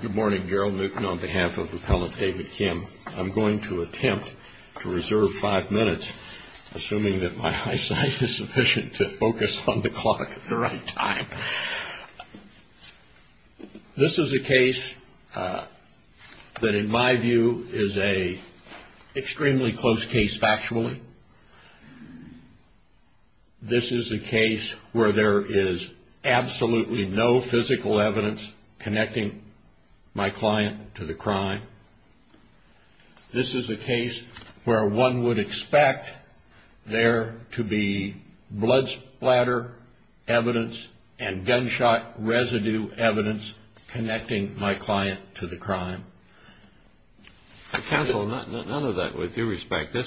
Good morning, Gerald Newkin on behalf of Appellant David Kim. I'm going to attempt to reserve five minutes, assuming that my eyesight is sufficient to focus on the clock at the right time. This is a case that in my view is an extremely close case factually. This is a case where there is absolutely no physical evidence connecting my client to the crime. This is a case where one would expect there to be blood splatter evidence and gunshot residue evidence connecting my client to the crime. Counsel, none of that with due respect. The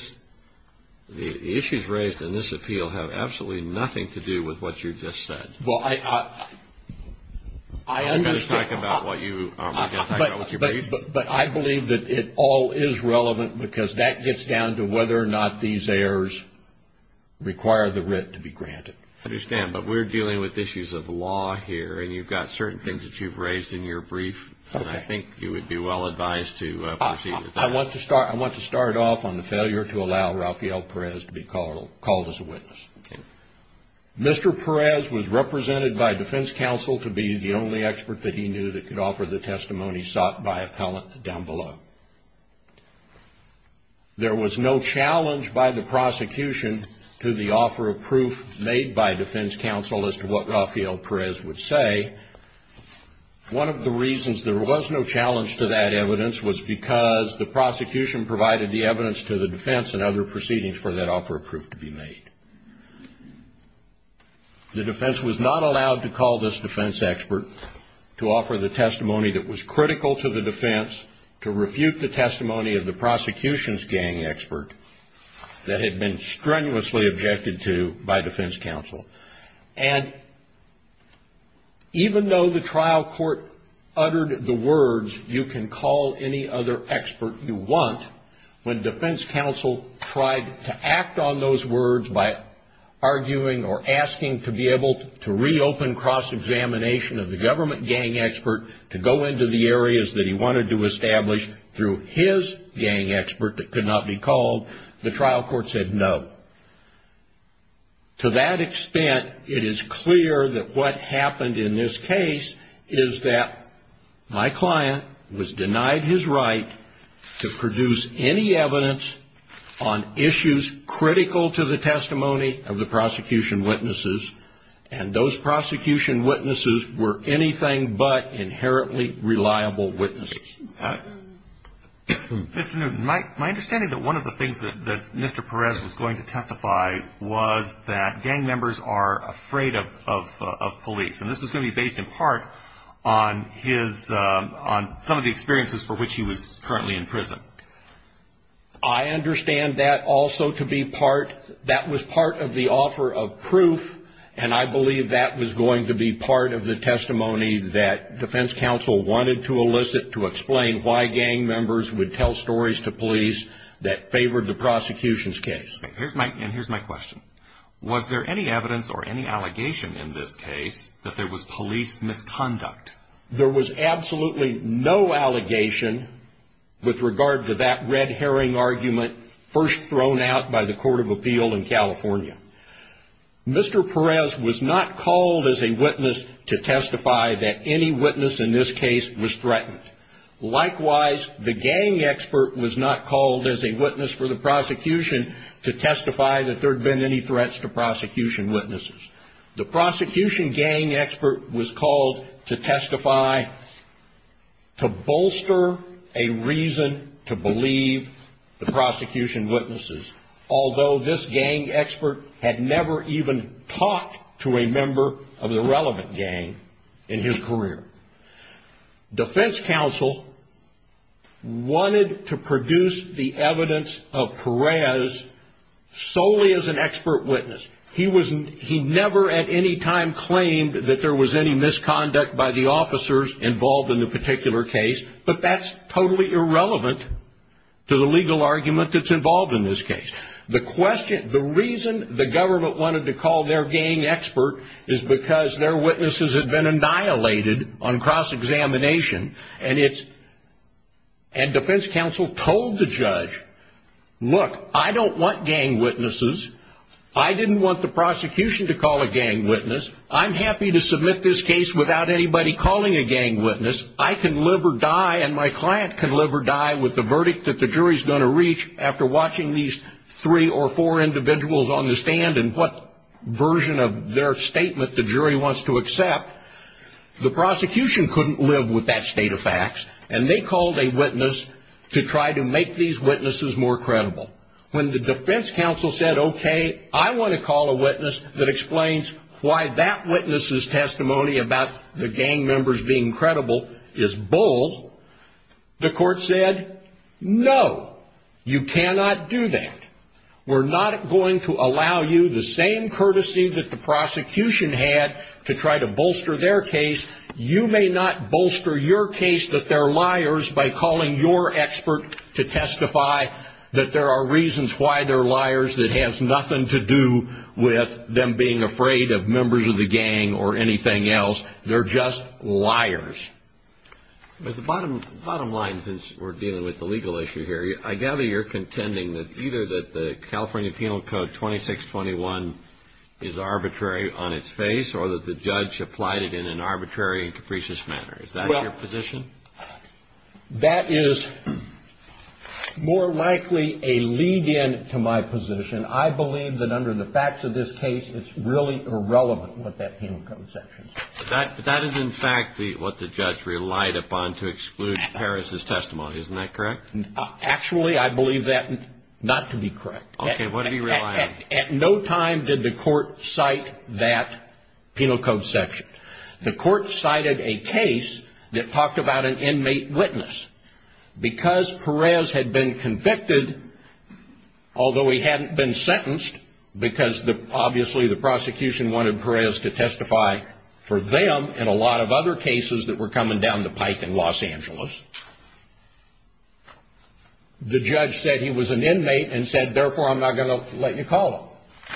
issues raised in this appeal have absolutely nothing to do with what you just said. Well, I... I understand. I'm not going to talk about what you... I'm not going to talk about what you briefed. But I believe that it all is relevant because that gets down to whether or not these errors require the writ to be granted. I understand. But we're dealing with issues of law here and you've got certain things that you've raised in your brief. Okay. And I think you would be well advised to proceed with that. I want to start off on the failure to allow Rafael Perez to be called as a witness. Okay. Mr. Perez was represented by defense counsel to be the only expert that he knew that could offer the testimony sought by appellant down below. There was no challenge by the prosecution to the offer of proof made by defense counsel as to what Rafael Perez would say. One of the reasons there was no challenge to that evidence was because the prosecution provided the evidence to the defense and other proceedings for that offer of proof to be made. The defense was not allowed to call this defense expert to offer the testimony that was critical to the defense to refute the testimony of the prosecution's gang expert that had been strenuously objected to by defense counsel. And even though the trial court uttered the words, you can call any other expert you want, when defense counsel tried to act on those words by arguing or asking to be able to reopen cross-examination of the government gang expert to go into the areas that he wanted to establish through his gang expert that could not be called, the trial court said no. To that extent, it is clear that what happened in this case is that my client was denied his right to produce any evidence on issues critical to the testimony of the prosecution witnesses, and those prosecution witnesses were anything but inherently reliable witnesses. Mr. Newton, my understanding is that one of the things that Mr. Perez was going to testify was that gang members are afraid of police, and this was going to be based in part on his, on some of the experiences for which he was currently in prison. I understand that also to be part, that was part of the offer of proof, and I believe that was going to be part of the testimony that defense counsel wanted to elicit to explain why gang members would tell stories to police that favored the prosecution's case. And here's my question. Was there any evidence or any allegation in this case that there was police misconduct? There was absolutely no allegation with regard to that red herring argument first thrown out by the Court of Appeal in California. Mr. Perez was not called as a witness to testify that any witness in this case was threatened. Likewise, the gang expert was not called as a witness for the prosecution to testify that there had been any threats to prosecution witnesses. The prosecution gang expert was called to testify to bolster a reason to believe the prosecution witnesses, although this gang expert had never even talked to a member of the relevant gang in his career. Defense counsel wanted to produce the evidence of Perez solely as an expert witness. He never at any time claimed that there was any misconduct by the officers involved in the particular case, but that's totally irrelevant to the legal argument that's involved in this case. The reason the government wanted to call their gang expert is because their witnesses had been annihilated on cross-examination, and defense counsel told the judge, look, I don't want gang witnesses. I didn't want the prosecution to call a gang witness. I'm happy to submit this case without anybody calling a gang witness. I can live or die, and my client can live or die with the verdict that the jury's going to reach after watching these three or four individuals on the stand and what version of their statement the jury wants to accept. The prosecution couldn't live with that state of facts, and they called a witness to try to make these witnesses more credible. When the defense counsel said, okay, I want to call a witness that explains why that witness's testimony about the gang members being credible is bold, the court said, no, you cannot do that. We're not going to allow you the same courtesy that the prosecution had to try to bolster their case. You may not bolster your case that they're liars by calling your expert to testify that there are reasons why they're liars that has nothing to do with them being afraid of members of the gang or anything else. They're just liars. The bottom line, since we're dealing with the legal issue here, I gather you're contending that either that the California Penal Code 2621 is arbitrary on its face or that the judge applied it in an arbitrary and capricious manner. Is that your position? That is more likely a lead-in to my position. I believe that under the facts of this case, it's really irrelevant what that Penal Code section says. That is, in fact, what the judge relied upon to exclude Perez's testimony. Isn't that correct? Actually, I believe that not to be correct. Okay. What did he rely on? At no time did the court cite that Penal Code section. The court cited a case that talked about an inmate witness. Because Perez had been convicted, although he hadn't been sentenced, because obviously the prosecution wanted for them and a lot of other cases that were coming down the pike in Los Angeles, the judge said he was an inmate and said, therefore, I'm not going to let you call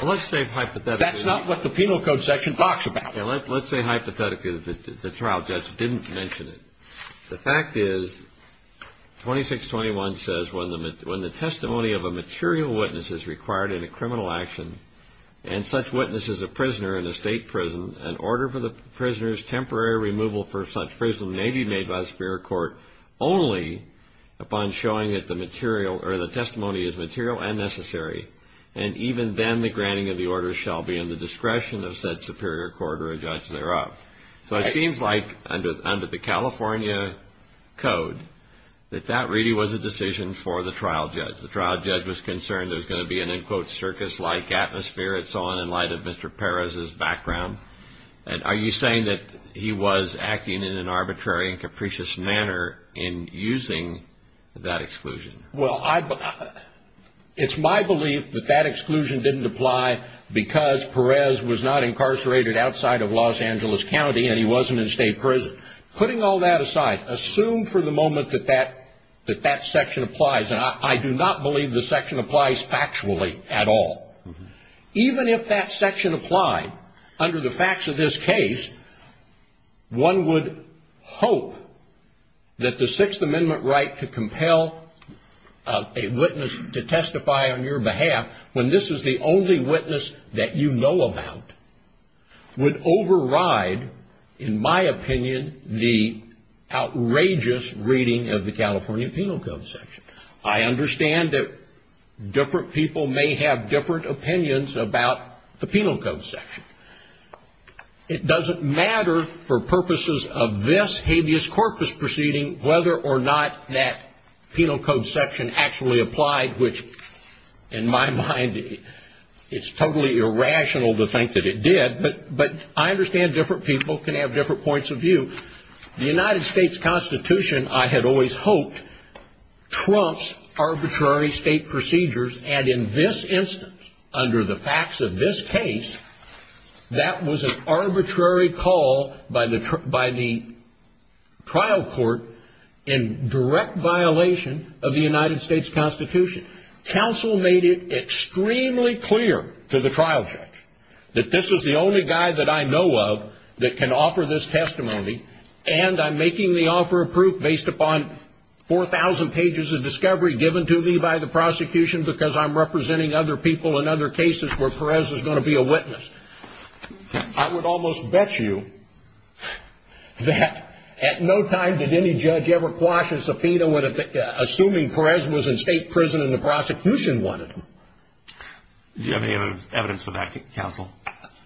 him. Let's say hypothetically. That's not what the Penal Code section talks about. Let's say hypothetically that the trial judge didn't mention it. The fact is 2621 says when the testimony of a material witness is required in a criminal action and such witness is a prisoner in a state prison, an order for the prisoner's temporary removal for such prison may be made by the Superior Court only upon showing that the testimony is material and necessary. And even then the granting of the order shall be in the discretion of said Superior Court or a judge thereof. So it seems like under the California Code that that really was a decision for the trial judge. As far as the trial judge was concerned, there's going to be an, in quotes, circus-like atmosphere in light of Mr. Perez's background. Are you saying that he was acting in an arbitrary and capricious manner in using that exclusion? Well, it's my belief that that exclusion didn't apply because Perez was not incarcerated outside of Los Angeles County and he wasn't in state prison. Putting all that aside, assume for the moment that that section applies. And I do not believe the section applies factually at all. Even if that section applied, under the facts of this case, one would hope that the Sixth Amendment right to compel a witness to testify on your behalf, when this is the only witness that you know about, would override, in my opinion, the outrageous reading of the California Penal Code section. I understand that different people may have different opinions about the Penal Code section. It doesn't matter for purposes of this habeas corpus proceeding whether or not that Penal Code section actually applied, which, in my mind, it's totally irrational to think that it did. But I understand different people can have different points of view. The United States Constitution, I had always hoped, trumps arbitrary state procedures. And in this instance, under the facts of this case, that was an arbitrary call by the trial court in direct violation of the United States Constitution. Counsel made it extremely clear to the trial judge that this is the only guy that I know of that can offer this testimony, and I'm making the offer of proof based upon 4,000 pages of discovery given to me by the prosecution because I'm representing other people in other cases where Perez is going to be a witness. I would almost bet you that at no time did any judge ever quash a subpoena assuming Perez was in state prison and the prosecution wanted him. Do you have any evidence of that, Counsel?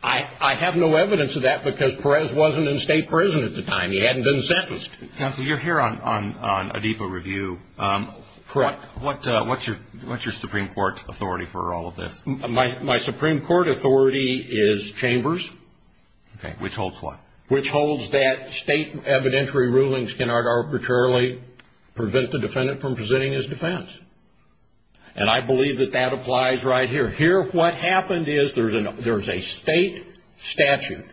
I have no evidence of that because Perez wasn't in state prison at the time. He hadn't been sentenced. Counsel, you're here on Adipa Review. Correct. What's your Supreme Court authority for all of this? My Supreme Court authority is Chambers. Okay. Which holds what? Which holds that state evidentiary rulings cannot arbitrarily prevent the defendant from presenting his defense. And I believe that that applies right here. Here what happened is there's a state statute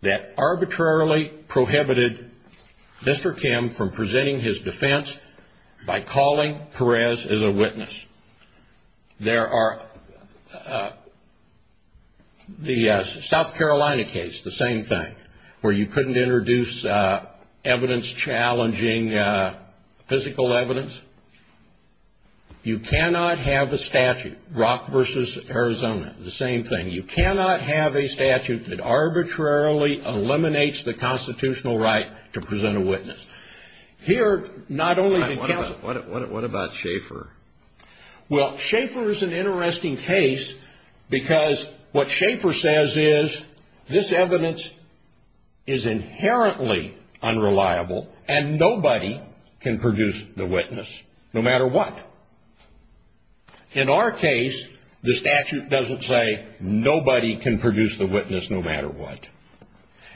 that arbitrarily prohibited Mr. Kim from presenting his defense by calling Perez as a witness. There are the South Carolina case, the same thing, where you couldn't introduce evidence challenging physical evidence. You cannot have a statute, Rock v. Arizona, the same thing. You cannot have a statute that arbitrarily eliminates the constitutional right to present a witness. What about Schaefer? Well, Schaefer is an interesting case because what Schaefer says is this evidence is inherently unreliable and nobody can produce the witness no matter what. In our case, the statute doesn't say nobody can produce the witness no matter what.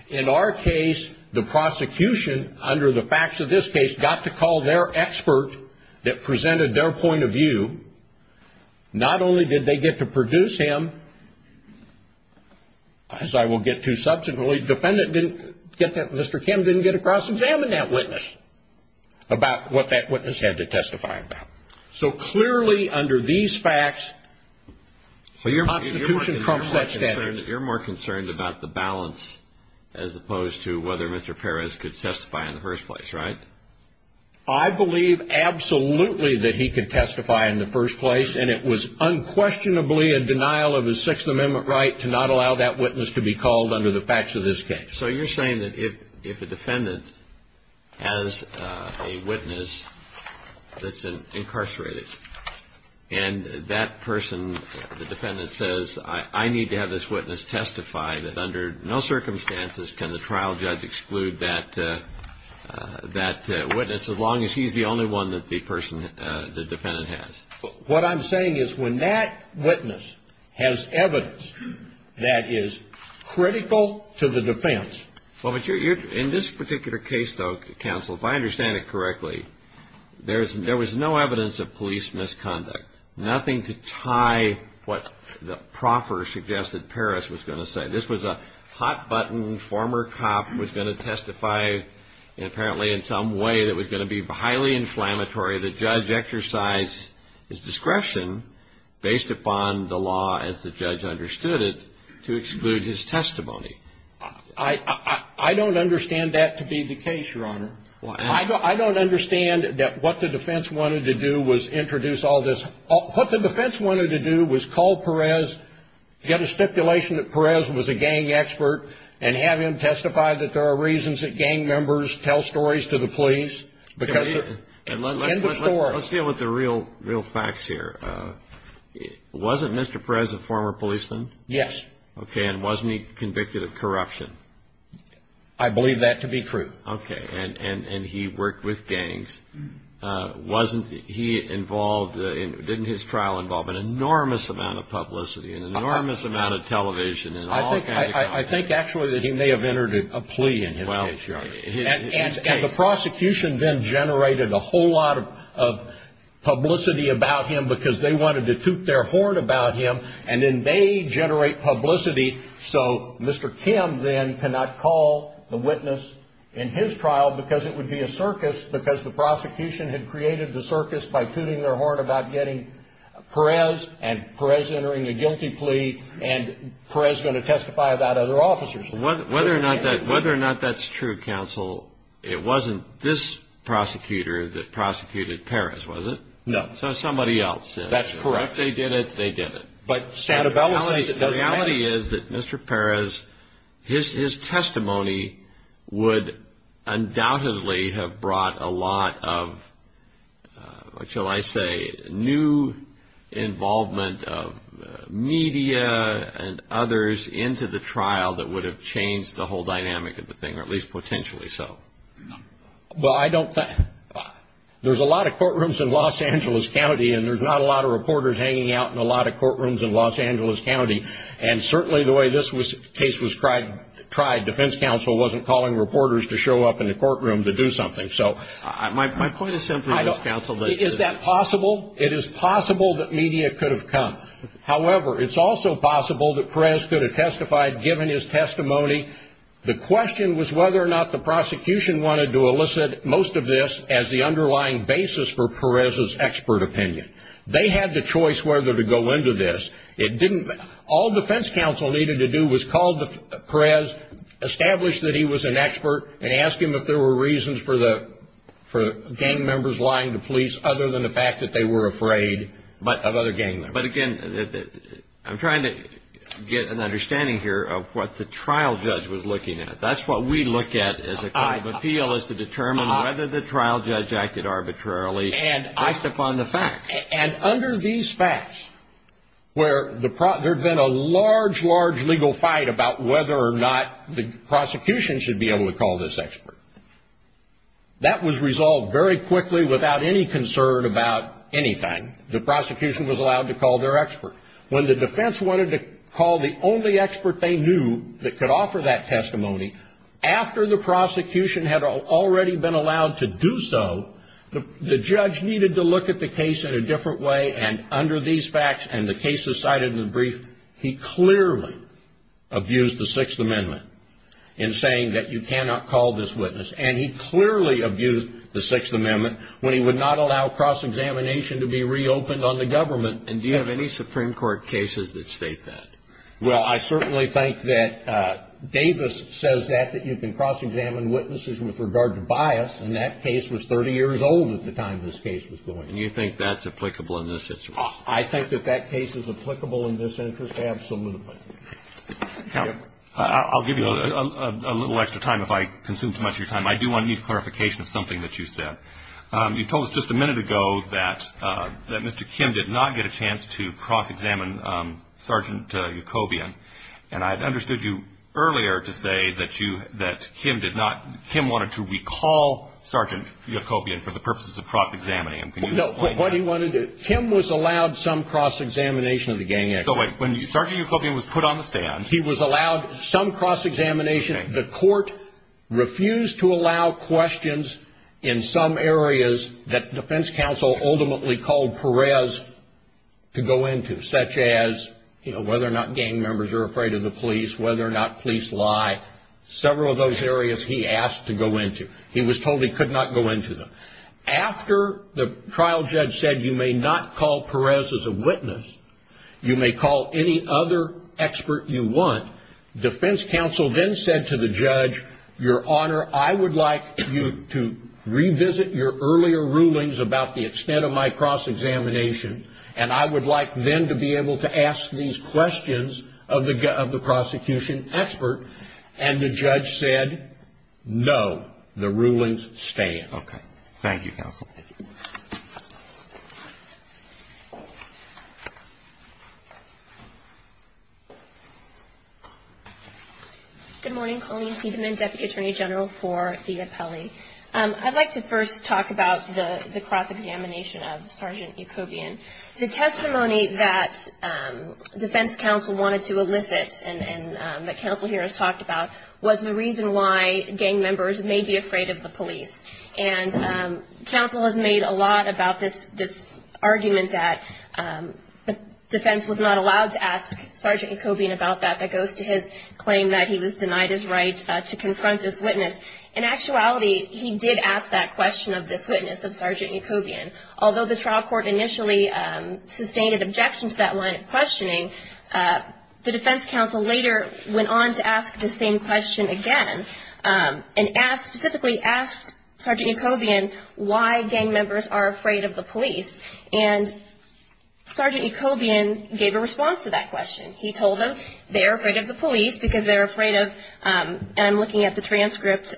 In our case, the prosecution, under the facts of this case, got to call their expert that presented their point of view. Not only did they get to produce him, as I will get to subsequently, the defendant didn't get that. Mr. Kim didn't get to cross-examine that witness about what that witness had to testify about. So clearly under these facts, the Constitution trumps that statute. You're more concerned about the balance as opposed to whether Mr. Perez could testify in the first place, right? I believe absolutely that he could testify in the first place, and it was unquestionably a denial of his Sixth Amendment right to not allow that witness to be called under the facts of this case. So you're saying that if a defendant has a witness that's incarcerated, and that person, the defendant says, I need to have this witness testify, that under no circumstances can the trial judge exclude that witness as long as he's the only one that the person, the defendant has? What I'm saying is when that witness has evidence that is critical to the defense. In this particular case, though, counsel, if I understand it correctly, there was no evidence of police misconduct. Nothing to tie what the proffer suggested Perez was going to say. This was a hot-button former cop who was going to testify apparently in some way that was going to be highly inflammatory. The judge exercised his discretion based upon the law as the judge understood it to exclude his testimony. I don't understand that to be the case, Your Honor. I don't understand that what the defense wanted to do was introduce all this. What the defense wanted to do was call Perez, get a stipulation that Perez was a gang expert, and have him testify that there are reasons that gang members tell stories to the police. Let's deal with the real facts here. Wasn't Mr. Perez a former policeman? Yes. Okay, and wasn't he convicted of corruption? I believe that to be true. Okay, and he worked with gangs. Didn't his trial involve an enormous amount of publicity and an enormous amount of television? I think actually that he may have entered a plea in his case, Your Honor. And the prosecution then generated a whole lot of publicity about him because they wanted to toot their horn about him, and then they generate publicity so Mr. Kim then cannot call the witness in his trial because it would be a circus because the prosecution had created the circus by tooting their horn about getting Perez, and Perez entering a guilty plea, and Perez going to testify about other officers. Whether or not that's true, counsel, it wasn't this prosecutor that prosecuted Perez, was it? No. So somebody else did. That's correct. If they did it, they did it. But Santabella says it doesn't matter. The reality is that Mr. Perez, his testimony would undoubtedly have brought a lot of, what shall I say, new involvement of media and others into the trial that would have changed the whole dynamic of the thing, or at least potentially so. Well, I don't think, there's a lot of courtrooms in Los Angeles County, and there's not a lot of reporters hanging out in a lot of courtrooms in Los Angeles County. And certainly the way this case was tried, defense counsel wasn't calling reporters to show up in the courtroom to do something. My point is simply, counsel. Is that possible? It is possible that media could have come. However, it's also possible that Perez could have testified given his testimony. The question was whether or not the prosecution wanted to elicit most of this as the underlying basis for Perez's expert opinion. They had the choice whether to go into this. It didn't, all defense counsel needed to do was call Perez, establish that he was an expert, and ask him if there were reasons for gang members lying to police other than the fact that they were afraid of other gang members. But again, I'm trying to get an understanding here of what the trial judge was looking at. That's what we look at as a kind of appeal, is to determine whether the trial judge acted arbitrarily based upon the facts. And under these facts, where there had been a large, large legal fight about whether or not the prosecution should be able to call this expert, that was resolved very quickly without any concern about anything. The prosecution was allowed to call their expert. When the defense wanted to call the only expert they knew that could offer that testimony, after the prosecution had already been allowed to do so, the judge needed to look at the case in a different way. And under these facts, and the cases cited in the brief, he clearly abused the Sixth Amendment in saying that you cannot call this witness. And he clearly abused the Sixth Amendment when he would not allow cross-examination to be reopened on the government. And do you have any Supreme Court cases that state that? Well, I certainly think that Davis says that, that you can cross-examine witnesses with regard to bias, and that case was 30 years old at the time this case was going. And you think that's applicable in this instance? I think that that case is applicable in this instance, absolutely. I'll give you a little extra time if I consume too much of your time. I do need clarification of something that you said. You told us just a minute ago that Mr. Kim did not get a chance to cross-examine Sergeant Yacobian. And I had understood you earlier to say that you, that Kim did not, Kim wanted to recall Sergeant Yacobian for the purposes of cross-examining him. Can you explain that? No, what he wanted to, Kim was allowed some cross-examination of the gang expert. When Sergeant Yacobian was put on the stand. He was allowed some cross-examination. The court refused to allow questions in some areas that defense counsel ultimately called Perez to go into, such as whether or not gang members are afraid of the police, whether or not police lie, several of those areas he asked to go into. He was told he could not go into them. After the trial judge said you may not call Perez as a witness, you may call any other expert you want, defense counsel then said to the judge, Your Honor, I would like you to revisit your earlier rulings about the extent of my cross-examination, and I would like then to be able to ask these questions of the prosecution expert. And the judge said, No, the rulings stand. Okay. Thank you, counsel. Good morning. Colleen Seidman, Deputy Attorney General for the appellee. I'd like to first talk about the cross-examination of Sergeant Yacobian. The testimony that defense counsel wanted to elicit and that counsel here has talked about was the reason why gang members may be afraid of the police. And counsel has made a lot about this argument that defense was not allowed to ask Sergeant Yacobian about that. That goes to his claim that he was denied his right to confront this witness. In actuality, he did ask that question of this witness of Sergeant Yacobian. Although the trial court initially sustained an objection to that line of questioning, the defense counsel later went on to ask the same question again and specifically asked Sergeant Yacobian why gang members are afraid of the police. And Sergeant Yacobian gave a response to that question. He told them they're afraid of the police because they're afraid of, and I'm looking at the transcript,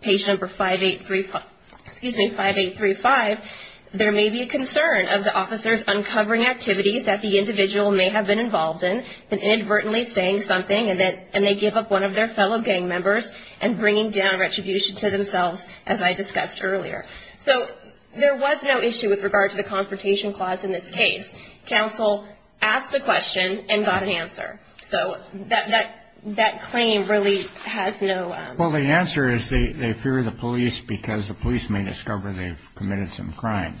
page number 5835, there may be a concern of the officers uncovering activities that the individual may have been involved in and inadvertently saying something and they give up one of their fellow gang members and bringing down retribution to themselves, as I discussed earlier. So there was no issue with regard to the confrontation clause in this case. Counsel asked the question and got an answer. So that claim really has no... Well, the answer is they fear the police because the police may discover they've committed some crimes.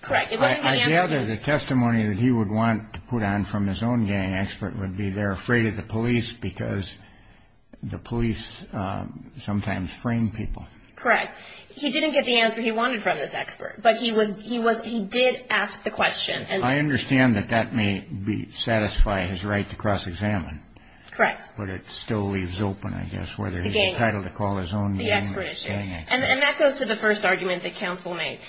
Correct. I gather the testimony that he would want to put on from his own gang expert would be they're afraid of the police because the police sometimes frame people. Correct. He didn't get the answer he wanted from this expert, but he did ask the question. I understand that that may satisfy his right to cross-examine. Correct. But it still leaves open, I guess, whether he's entitled to call his own gang expert. And that goes to the first argument that counsel made.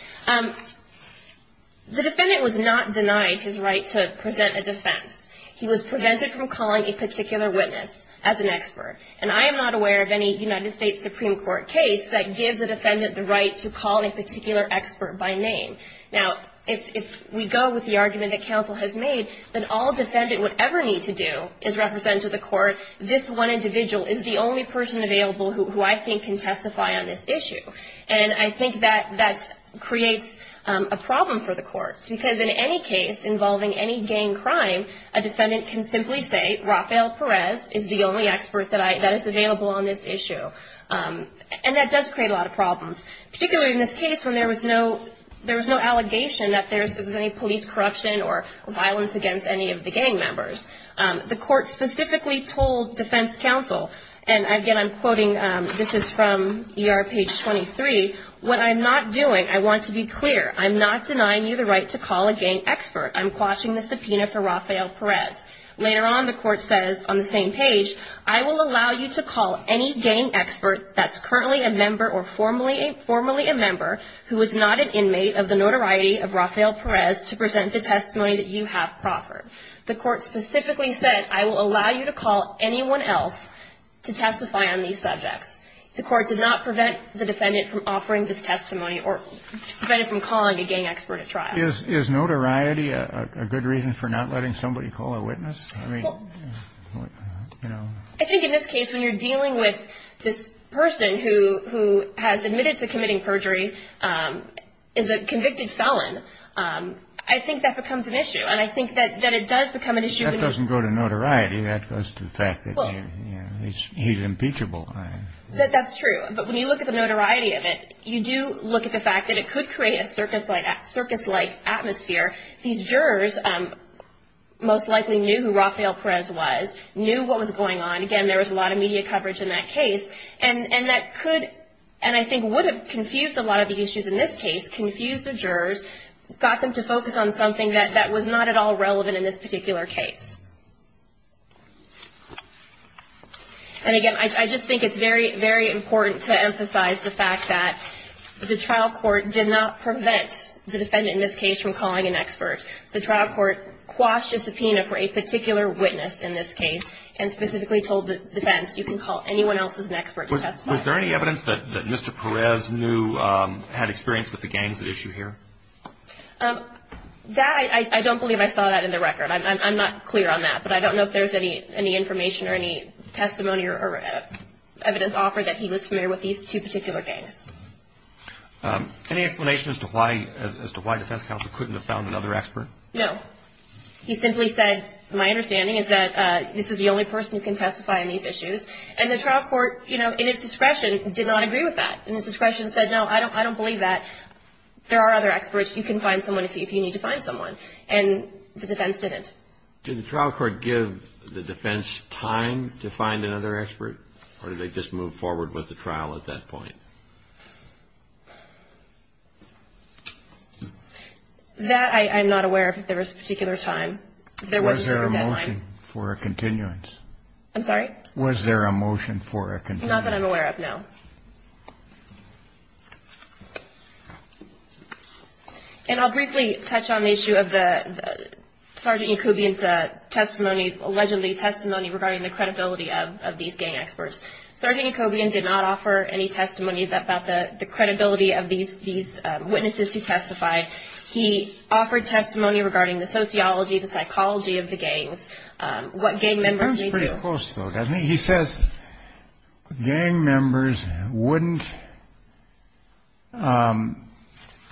The defendant was not denied his right to present a defense. He was prevented from calling a particular witness as an expert, and I am not aware of any United States Supreme Court case that gives a defendant the right to call a particular expert by name. Now, if we go with the argument that counsel has made, then all defendant would ever need to do is represent to the court, this one individual is the only person available who I think can testify on this issue. And I think that that creates a problem for the courts because in any case involving any gang crime, a defendant can simply say Rafael Perez is the only expert that is available on this issue. And that does create a lot of problems, particularly in this case when there was no allegation that there was any police corruption or violence against any of the gang members. The court specifically told defense counsel, and again, I'm quoting, this is from ER page 23, what I'm not doing, I want to be clear, I'm not denying you the right to call a gang expert. I'm quashing the subpoena for Rafael Perez. Later on, the court says on the same page, I will allow you to call any gang expert that's currently a member or formerly a member who is not an inmate of the notoriety of Rafael Perez to present the testimony that you have proffered. The court specifically said I will allow you to call anyone else to testify on these subjects. The court did not prevent the defendant from offering this testimony or prevent it from calling a gang expert at trial. Is notoriety a good reason for not letting somebody call a witness? I mean, you know. I think in this case when you're dealing with this person who has admitted to committing perjury, is a convicted felon, I think that becomes an issue. And I think that it does become an issue. That doesn't go to notoriety. That goes to the fact that he's impeachable. That's true. But when you look at the notoriety of it, you do look at the fact that it could create a circus-like atmosphere. These jurors most likely knew who Rafael Perez was, knew what was going on. Again, there was a lot of media coverage in that case. And that could and I think would have confused a lot of the issues in this case, confused the jurors, got them to focus on something that was not at all relevant in this particular case. And again, I just think it's very, very important to emphasize the fact that the trial court did not prevent the defendant in this case from calling an expert. The trial court quashed a subpoena for a particular witness in this case and specifically told the defense, you can call anyone else as an expert to testify. Was there any evidence that Mr. Perez knew, had experience with the gangs at issue here? That, I don't believe I saw that in the record. I'm not clear on that. But I don't know if there's any information or any testimony or evidence offered that he was familiar with these two particular gangs. Any explanation as to why the defense counsel couldn't have found another expert? No. He simply said, my understanding is that this is the only person who can testify on these issues. And the trial court, you know, in its discretion, did not agree with that. In its discretion said, no, I don't believe that. There are other experts. You can find someone if you need to find someone. And the defense didn't. Did the trial court give the defense time to find another expert? Or did they just move forward with the trial at that point? That, I'm not aware of if there was a particular time. Was there a motion for a continuance? I'm sorry? Was there a motion for a continuance? Not that I'm aware of, no. And I'll briefly touch on the issue of the Sergeant Jacobian's testimony, allegedly testimony regarding the credibility of these gang experts. Sergeant Jacobian did not offer any testimony about the credibility of these witnesses who testified. He offered testimony regarding the sociology, the psychology of the gangs, what gang members may do. Sounds pretty close, though, doesn't it? He says gang members wouldn't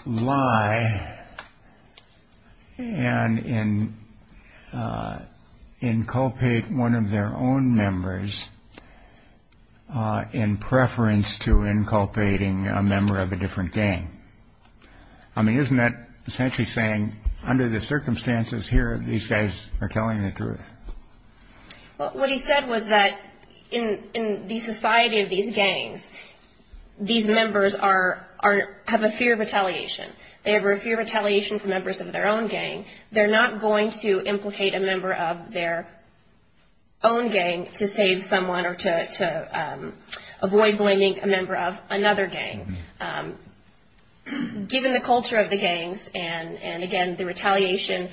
lie and inculpate one of their own members in preference to inculpating a member of a different gang. I mean, isn't that essentially saying under the circumstances here, these guys are telling the truth? Well, what he said was that in the society of these gangs, these members have a fear of retaliation. They have a fear of retaliation from members of their own gang. They're not going to implicate a member of their own gang to save someone or to avoid blaming a member of another gang. Given the culture of the gangs and, again, the retaliation,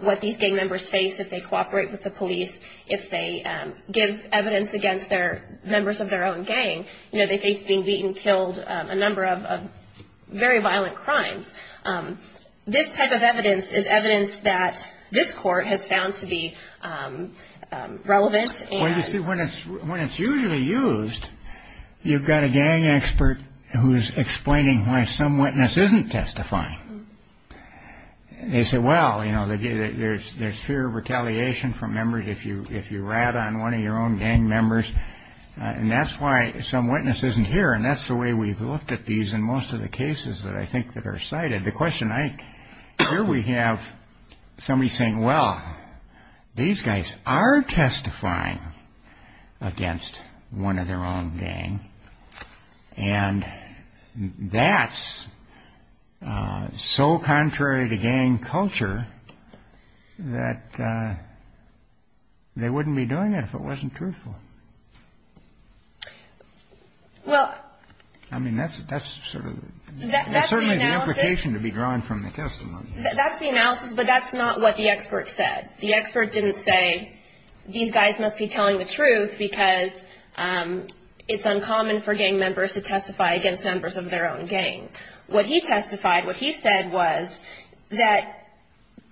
what these gang members face if they cooperate with the police, if they give evidence against members of their own gang, they face being beaten, killed, a number of very violent crimes. This type of evidence is evidence that this court has found to be relevant. Well, you see, when it's usually used, you've got a gang expert who's explaining why some witness isn't testifying. They say, well, you know, there's fear of retaliation from members if you rat on one of your own gang members. And that's why some witness isn't here. And that's the way we've looked at these in most of the cases that I think that are cited. Here we have somebody saying, well, these guys are testifying against one of their own gang. And that's so contrary to gang culture that they wouldn't be doing it if it wasn't truthful. Well, I mean, that's certainly the implication to be drawn from the testimony. That's the analysis, but that's not what the expert said. The expert didn't say these guys must be telling the truth because it's uncommon for gang members to testify against members of their own gang. What he testified, what he said was that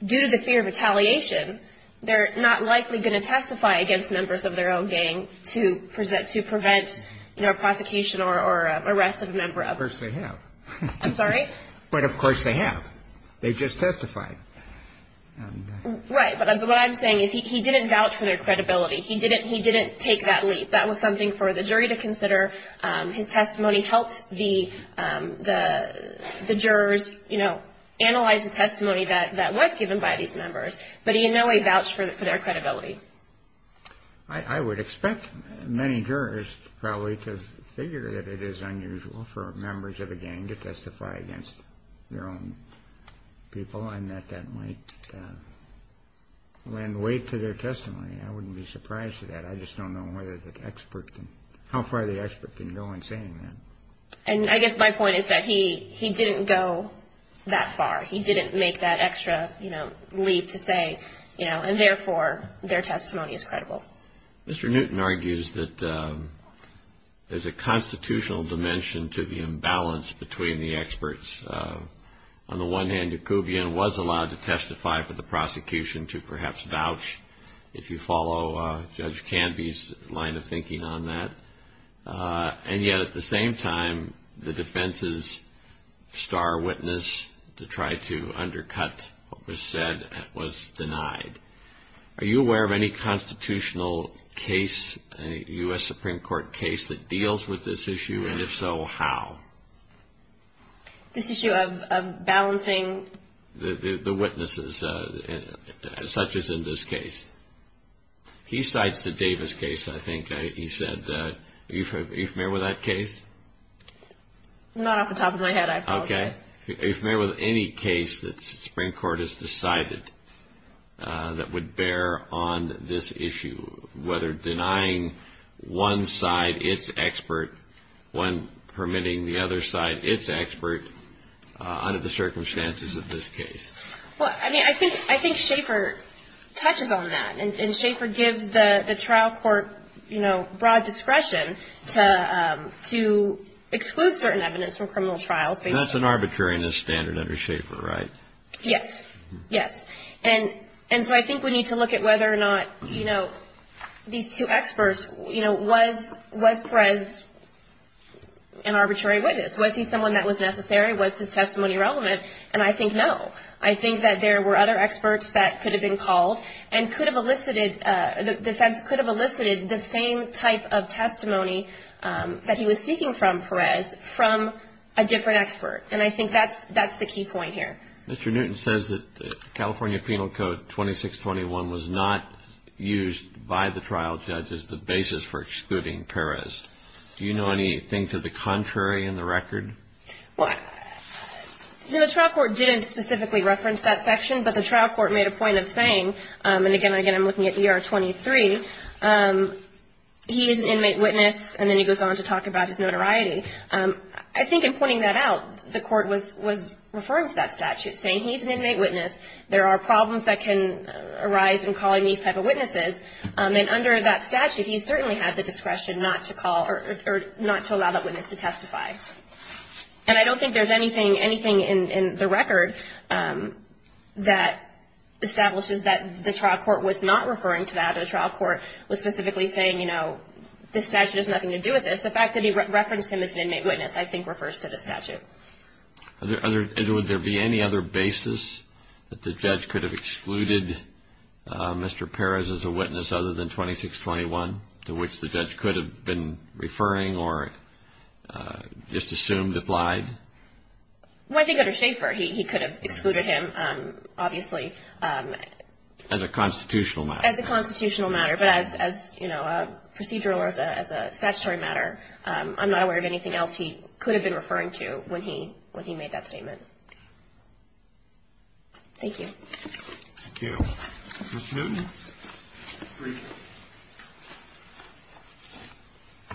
due to the fear of retaliation, they're not likely going to testify against members of their own gang to prevent, you know, prosecution or arrest of a member. Of course they have. I'm sorry? But of course they have. They just testified. Right. But what I'm saying is he didn't vouch for their credibility. He didn't take that leap. That was something for the jury to consider. His testimony helped the jurors, you know, analyze the testimony that was given by these members. But he in no way vouched for their credibility. I would expect many jurors probably to figure that it is unusual for members of a gang to testify against their own people and that that might lend weight to their testimony. I wouldn't be surprised at that. I just don't know how far the expert can go in saying that. And I guess my point is that he didn't go that far. He didn't make that extra, you know, leap to say, you know, and therefore their testimony is credible. Mr. Newton argues that there's a constitutional dimension to the imbalance between the experts. On the one hand, Dukoubian was allowed to testify for the prosecution to perhaps vouch, if you follow Judge Canby's line of thinking on that. And yet at the same time, the defense's star witness to try to undercut what was said was denied. Are you aware of any constitutional case, any U.S. Supreme Court case that deals with this issue? And if so, how? This issue of balancing. The witnesses, such as in this case. He cites the Davis case, I think he said. Are you familiar with that case? Not off the top of my head, I apologize. Are you familiar with any case that the Supreme Court has decided that would bear on this issue, whether denying one side its expert when permitting the other side its expert under the circumstances of this case? Well, I mean, I think Schaefer touches on that. And Schaefer gives the trial court, you know, broad discretion to exclude certain evidence from criminal trials. That's an arbitrariness standard under Schaefer, right? Yes. Yes. And so I think we need to look at whether or not, you know, these two experts, you know, was Perez an arbitrary witness? Was he someone that was necessary? Was his testimony relevant? And I think no. I think that there were other experts that could have been called and could have elicited, the defense could have elicited the same type of testimony that he was seeking from Perez from a different expert. And I think that's the key point here. Mr. Newton says that California Penal Code 2621 was not used by the trial judge as the basis for excluding Perez. Do you know anything to the contrary in the record? Well, you know, the trial court didn't specifically reference that section, but the trial court made a point of saying, and again, I'm looking at ER 23, he is an inmate witness, and then he goes on to talk about his notoriety. I think in pointing that out, the court was referring to that statute, saying he's an inmate witness, there are problems that can arise in calling these type of witnesses. And under that statute, he certainly had the discretion not to call or not to allow that witness to testify. And I don't think there's anything in the record that establishes that the trial court was not referring to that or the trial court was specifically saying, you know, this statute has nothing to do with this. The fact that he referenced him as an inmate witness, I think, refers to this statute. Would there be any other basis that the judge could have excluded Mr. Perez as a witness other than 2621, to which the judge could have been referring or just assumed applied? Well, I think under Schaefer, he could have excluded him, obviously. As a constitutional matter. As a constitutional matter, but as, you know, a procedural or as a statutory matter. I'm not aware of anything else he could have been referring to when he made that statement. Thank you. Thank you. Mr. Newton.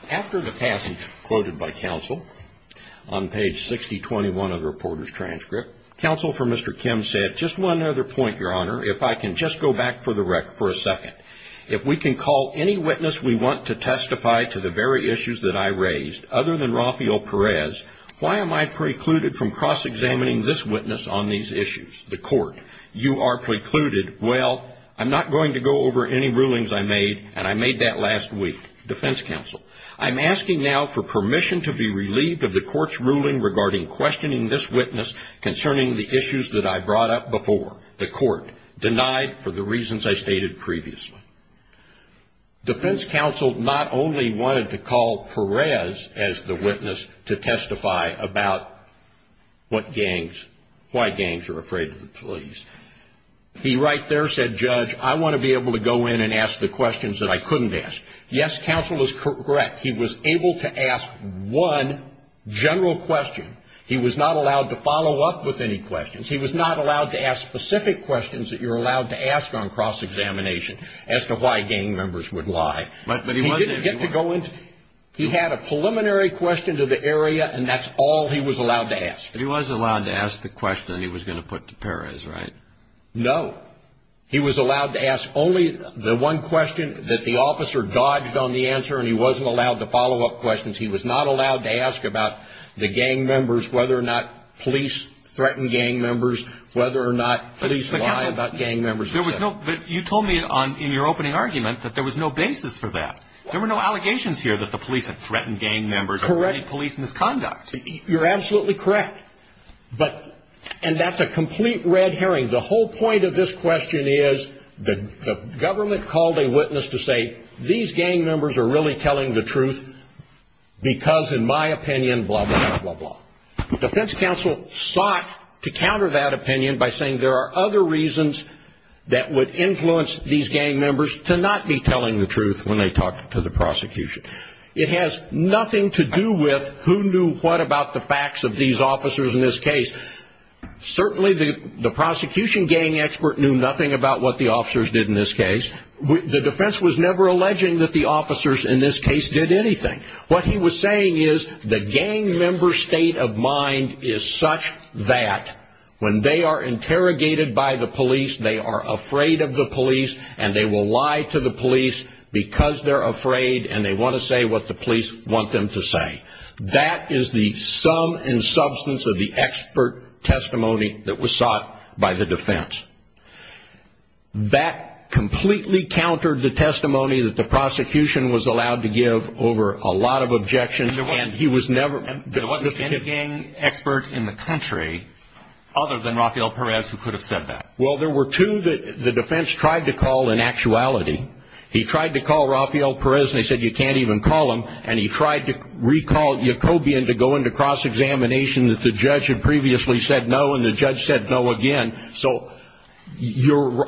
After the passage quoted by counsel on page 6021 of the reporter's transcript, counsel for Mr. Kim said, just one other point, Your Honor, if I can just go back for a second. If we can call any witness we want to testify to the very issues that I raised other than Rafael Perez, why am I precluded from cross-examining this witness on these issues? The court. You are precluded. Well, I'm not going to go over any rulings I made, and I made that last week. Defense counsel. I'm asking now for permission to be relieved of the court's ruling regarding questioning this witness concerning the issues that I brought up before. The court. Denied for the reasons I stated previously. Defense counsel not only wanted to call Perez as the witness to testify about what gangs, why gangs are afraid of the police. He right there said, Judge, I want to be able to go in and ask the questions that I couldn't ask. Yes, counsel is correct. He was able to ask one general question. He was not allowed to follow up with any questions. He was not allowed to ask specific questions that you're allowed to ask on cross-examination as to why gang members would lie. He didn't get to go in. He had a preliminary question to the area, and that's all he was allowed to ask. But he was allowed to ask the question he was going to put to Perez, right? No. He was allowed to ask only the one question that the officer dodged on the answer, and he wasn't allowed to follow up questions. He was not allowed to ask about the gang members, whether or not police threatened gang members, whether or not police lie about gang members. But you told me in your opening argument that there was no basis for that. There were no allegations here that the police had threatened gang members or any police misconduct. You're absolutely correct, and that's a complete red herring. The whole point of this question is the government called a witness to say, these gang members are really telling the truth because, in my opinion, blah, blah, blah, blah. The defense counsel sought to counter that opinion by saying there are other reasons that would influence these gang members to not be telling the truth when they talk to the prosecution. It has nothing to do with who knew what about the facts of these officers in this case. Certainly the prosecution gang expert knew nothing about what the officers did in this case. The defense was never alleging that the officers in this case did anything. What he was saying is the gang member state of mind is such that when they are interrogated by the police, they are afraid of the police and they will lie to the police because they're afraid and they want to say what the police want them to say. That is the sum and substance of the expert testimony that was sought by the defense. That completely countered the testimony that the prosecution was allowed to give over a lot of objections. And there wasn't any gang expert in the country other than Rafael Perez who could have said that. Well, there were two that the defense tried to call in actuality. He tried to call Rafael Perez and they said you can't even call him, and he tried to recall Jacobian to go into cross-examination that the judge had previously said no, and the judge said no again. So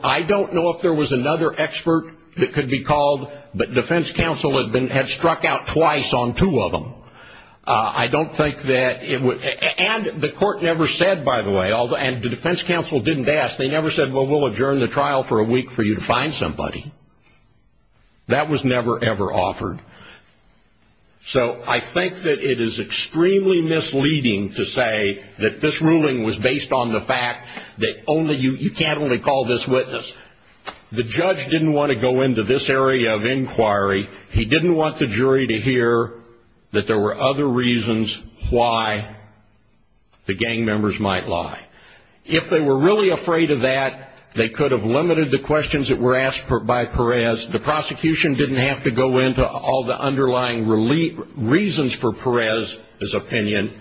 I don't know if there was another expert that could be called, but defense counsel had struck out twice on two of them. And the court never said, by the way, and the defense counsel didn't ask, they never said, well, we'll adjourn the trial for a week for you to find somebody. That was never, ever offered. So I think that it is extremely misleading to say that this ruling was based on the fact that you can't only call this witness. The judge didn't want to go into this area of inquiry. He didn't want the jury to hear that there were other reasons why the gang members might lie. If they were really afraid of that, they could have limited the questions that were asked by Perez. The prosecution didn't have to go into all the underlying reasons for Perez's opinion.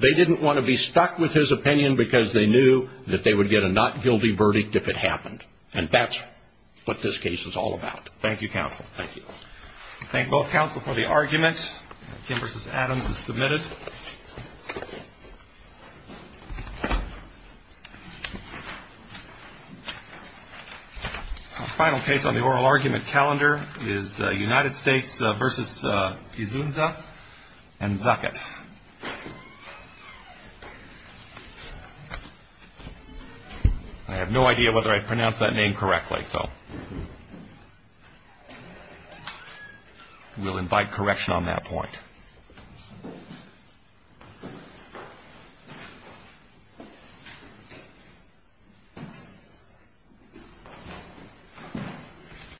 They didn't want to be stuck with his opinion because they knew that they would get a not guilty verdict if it happened. And that's what this case is all about. Thank you, counsel. Thank you. We thank both counsel for the argument. Kim versus Adams is submitted. Our final case on the oral argument calendar is United States versus Izunza and Zaket. I have no idea whether I pronounced that name correctly, so we'll invite correction on that point. Thank you.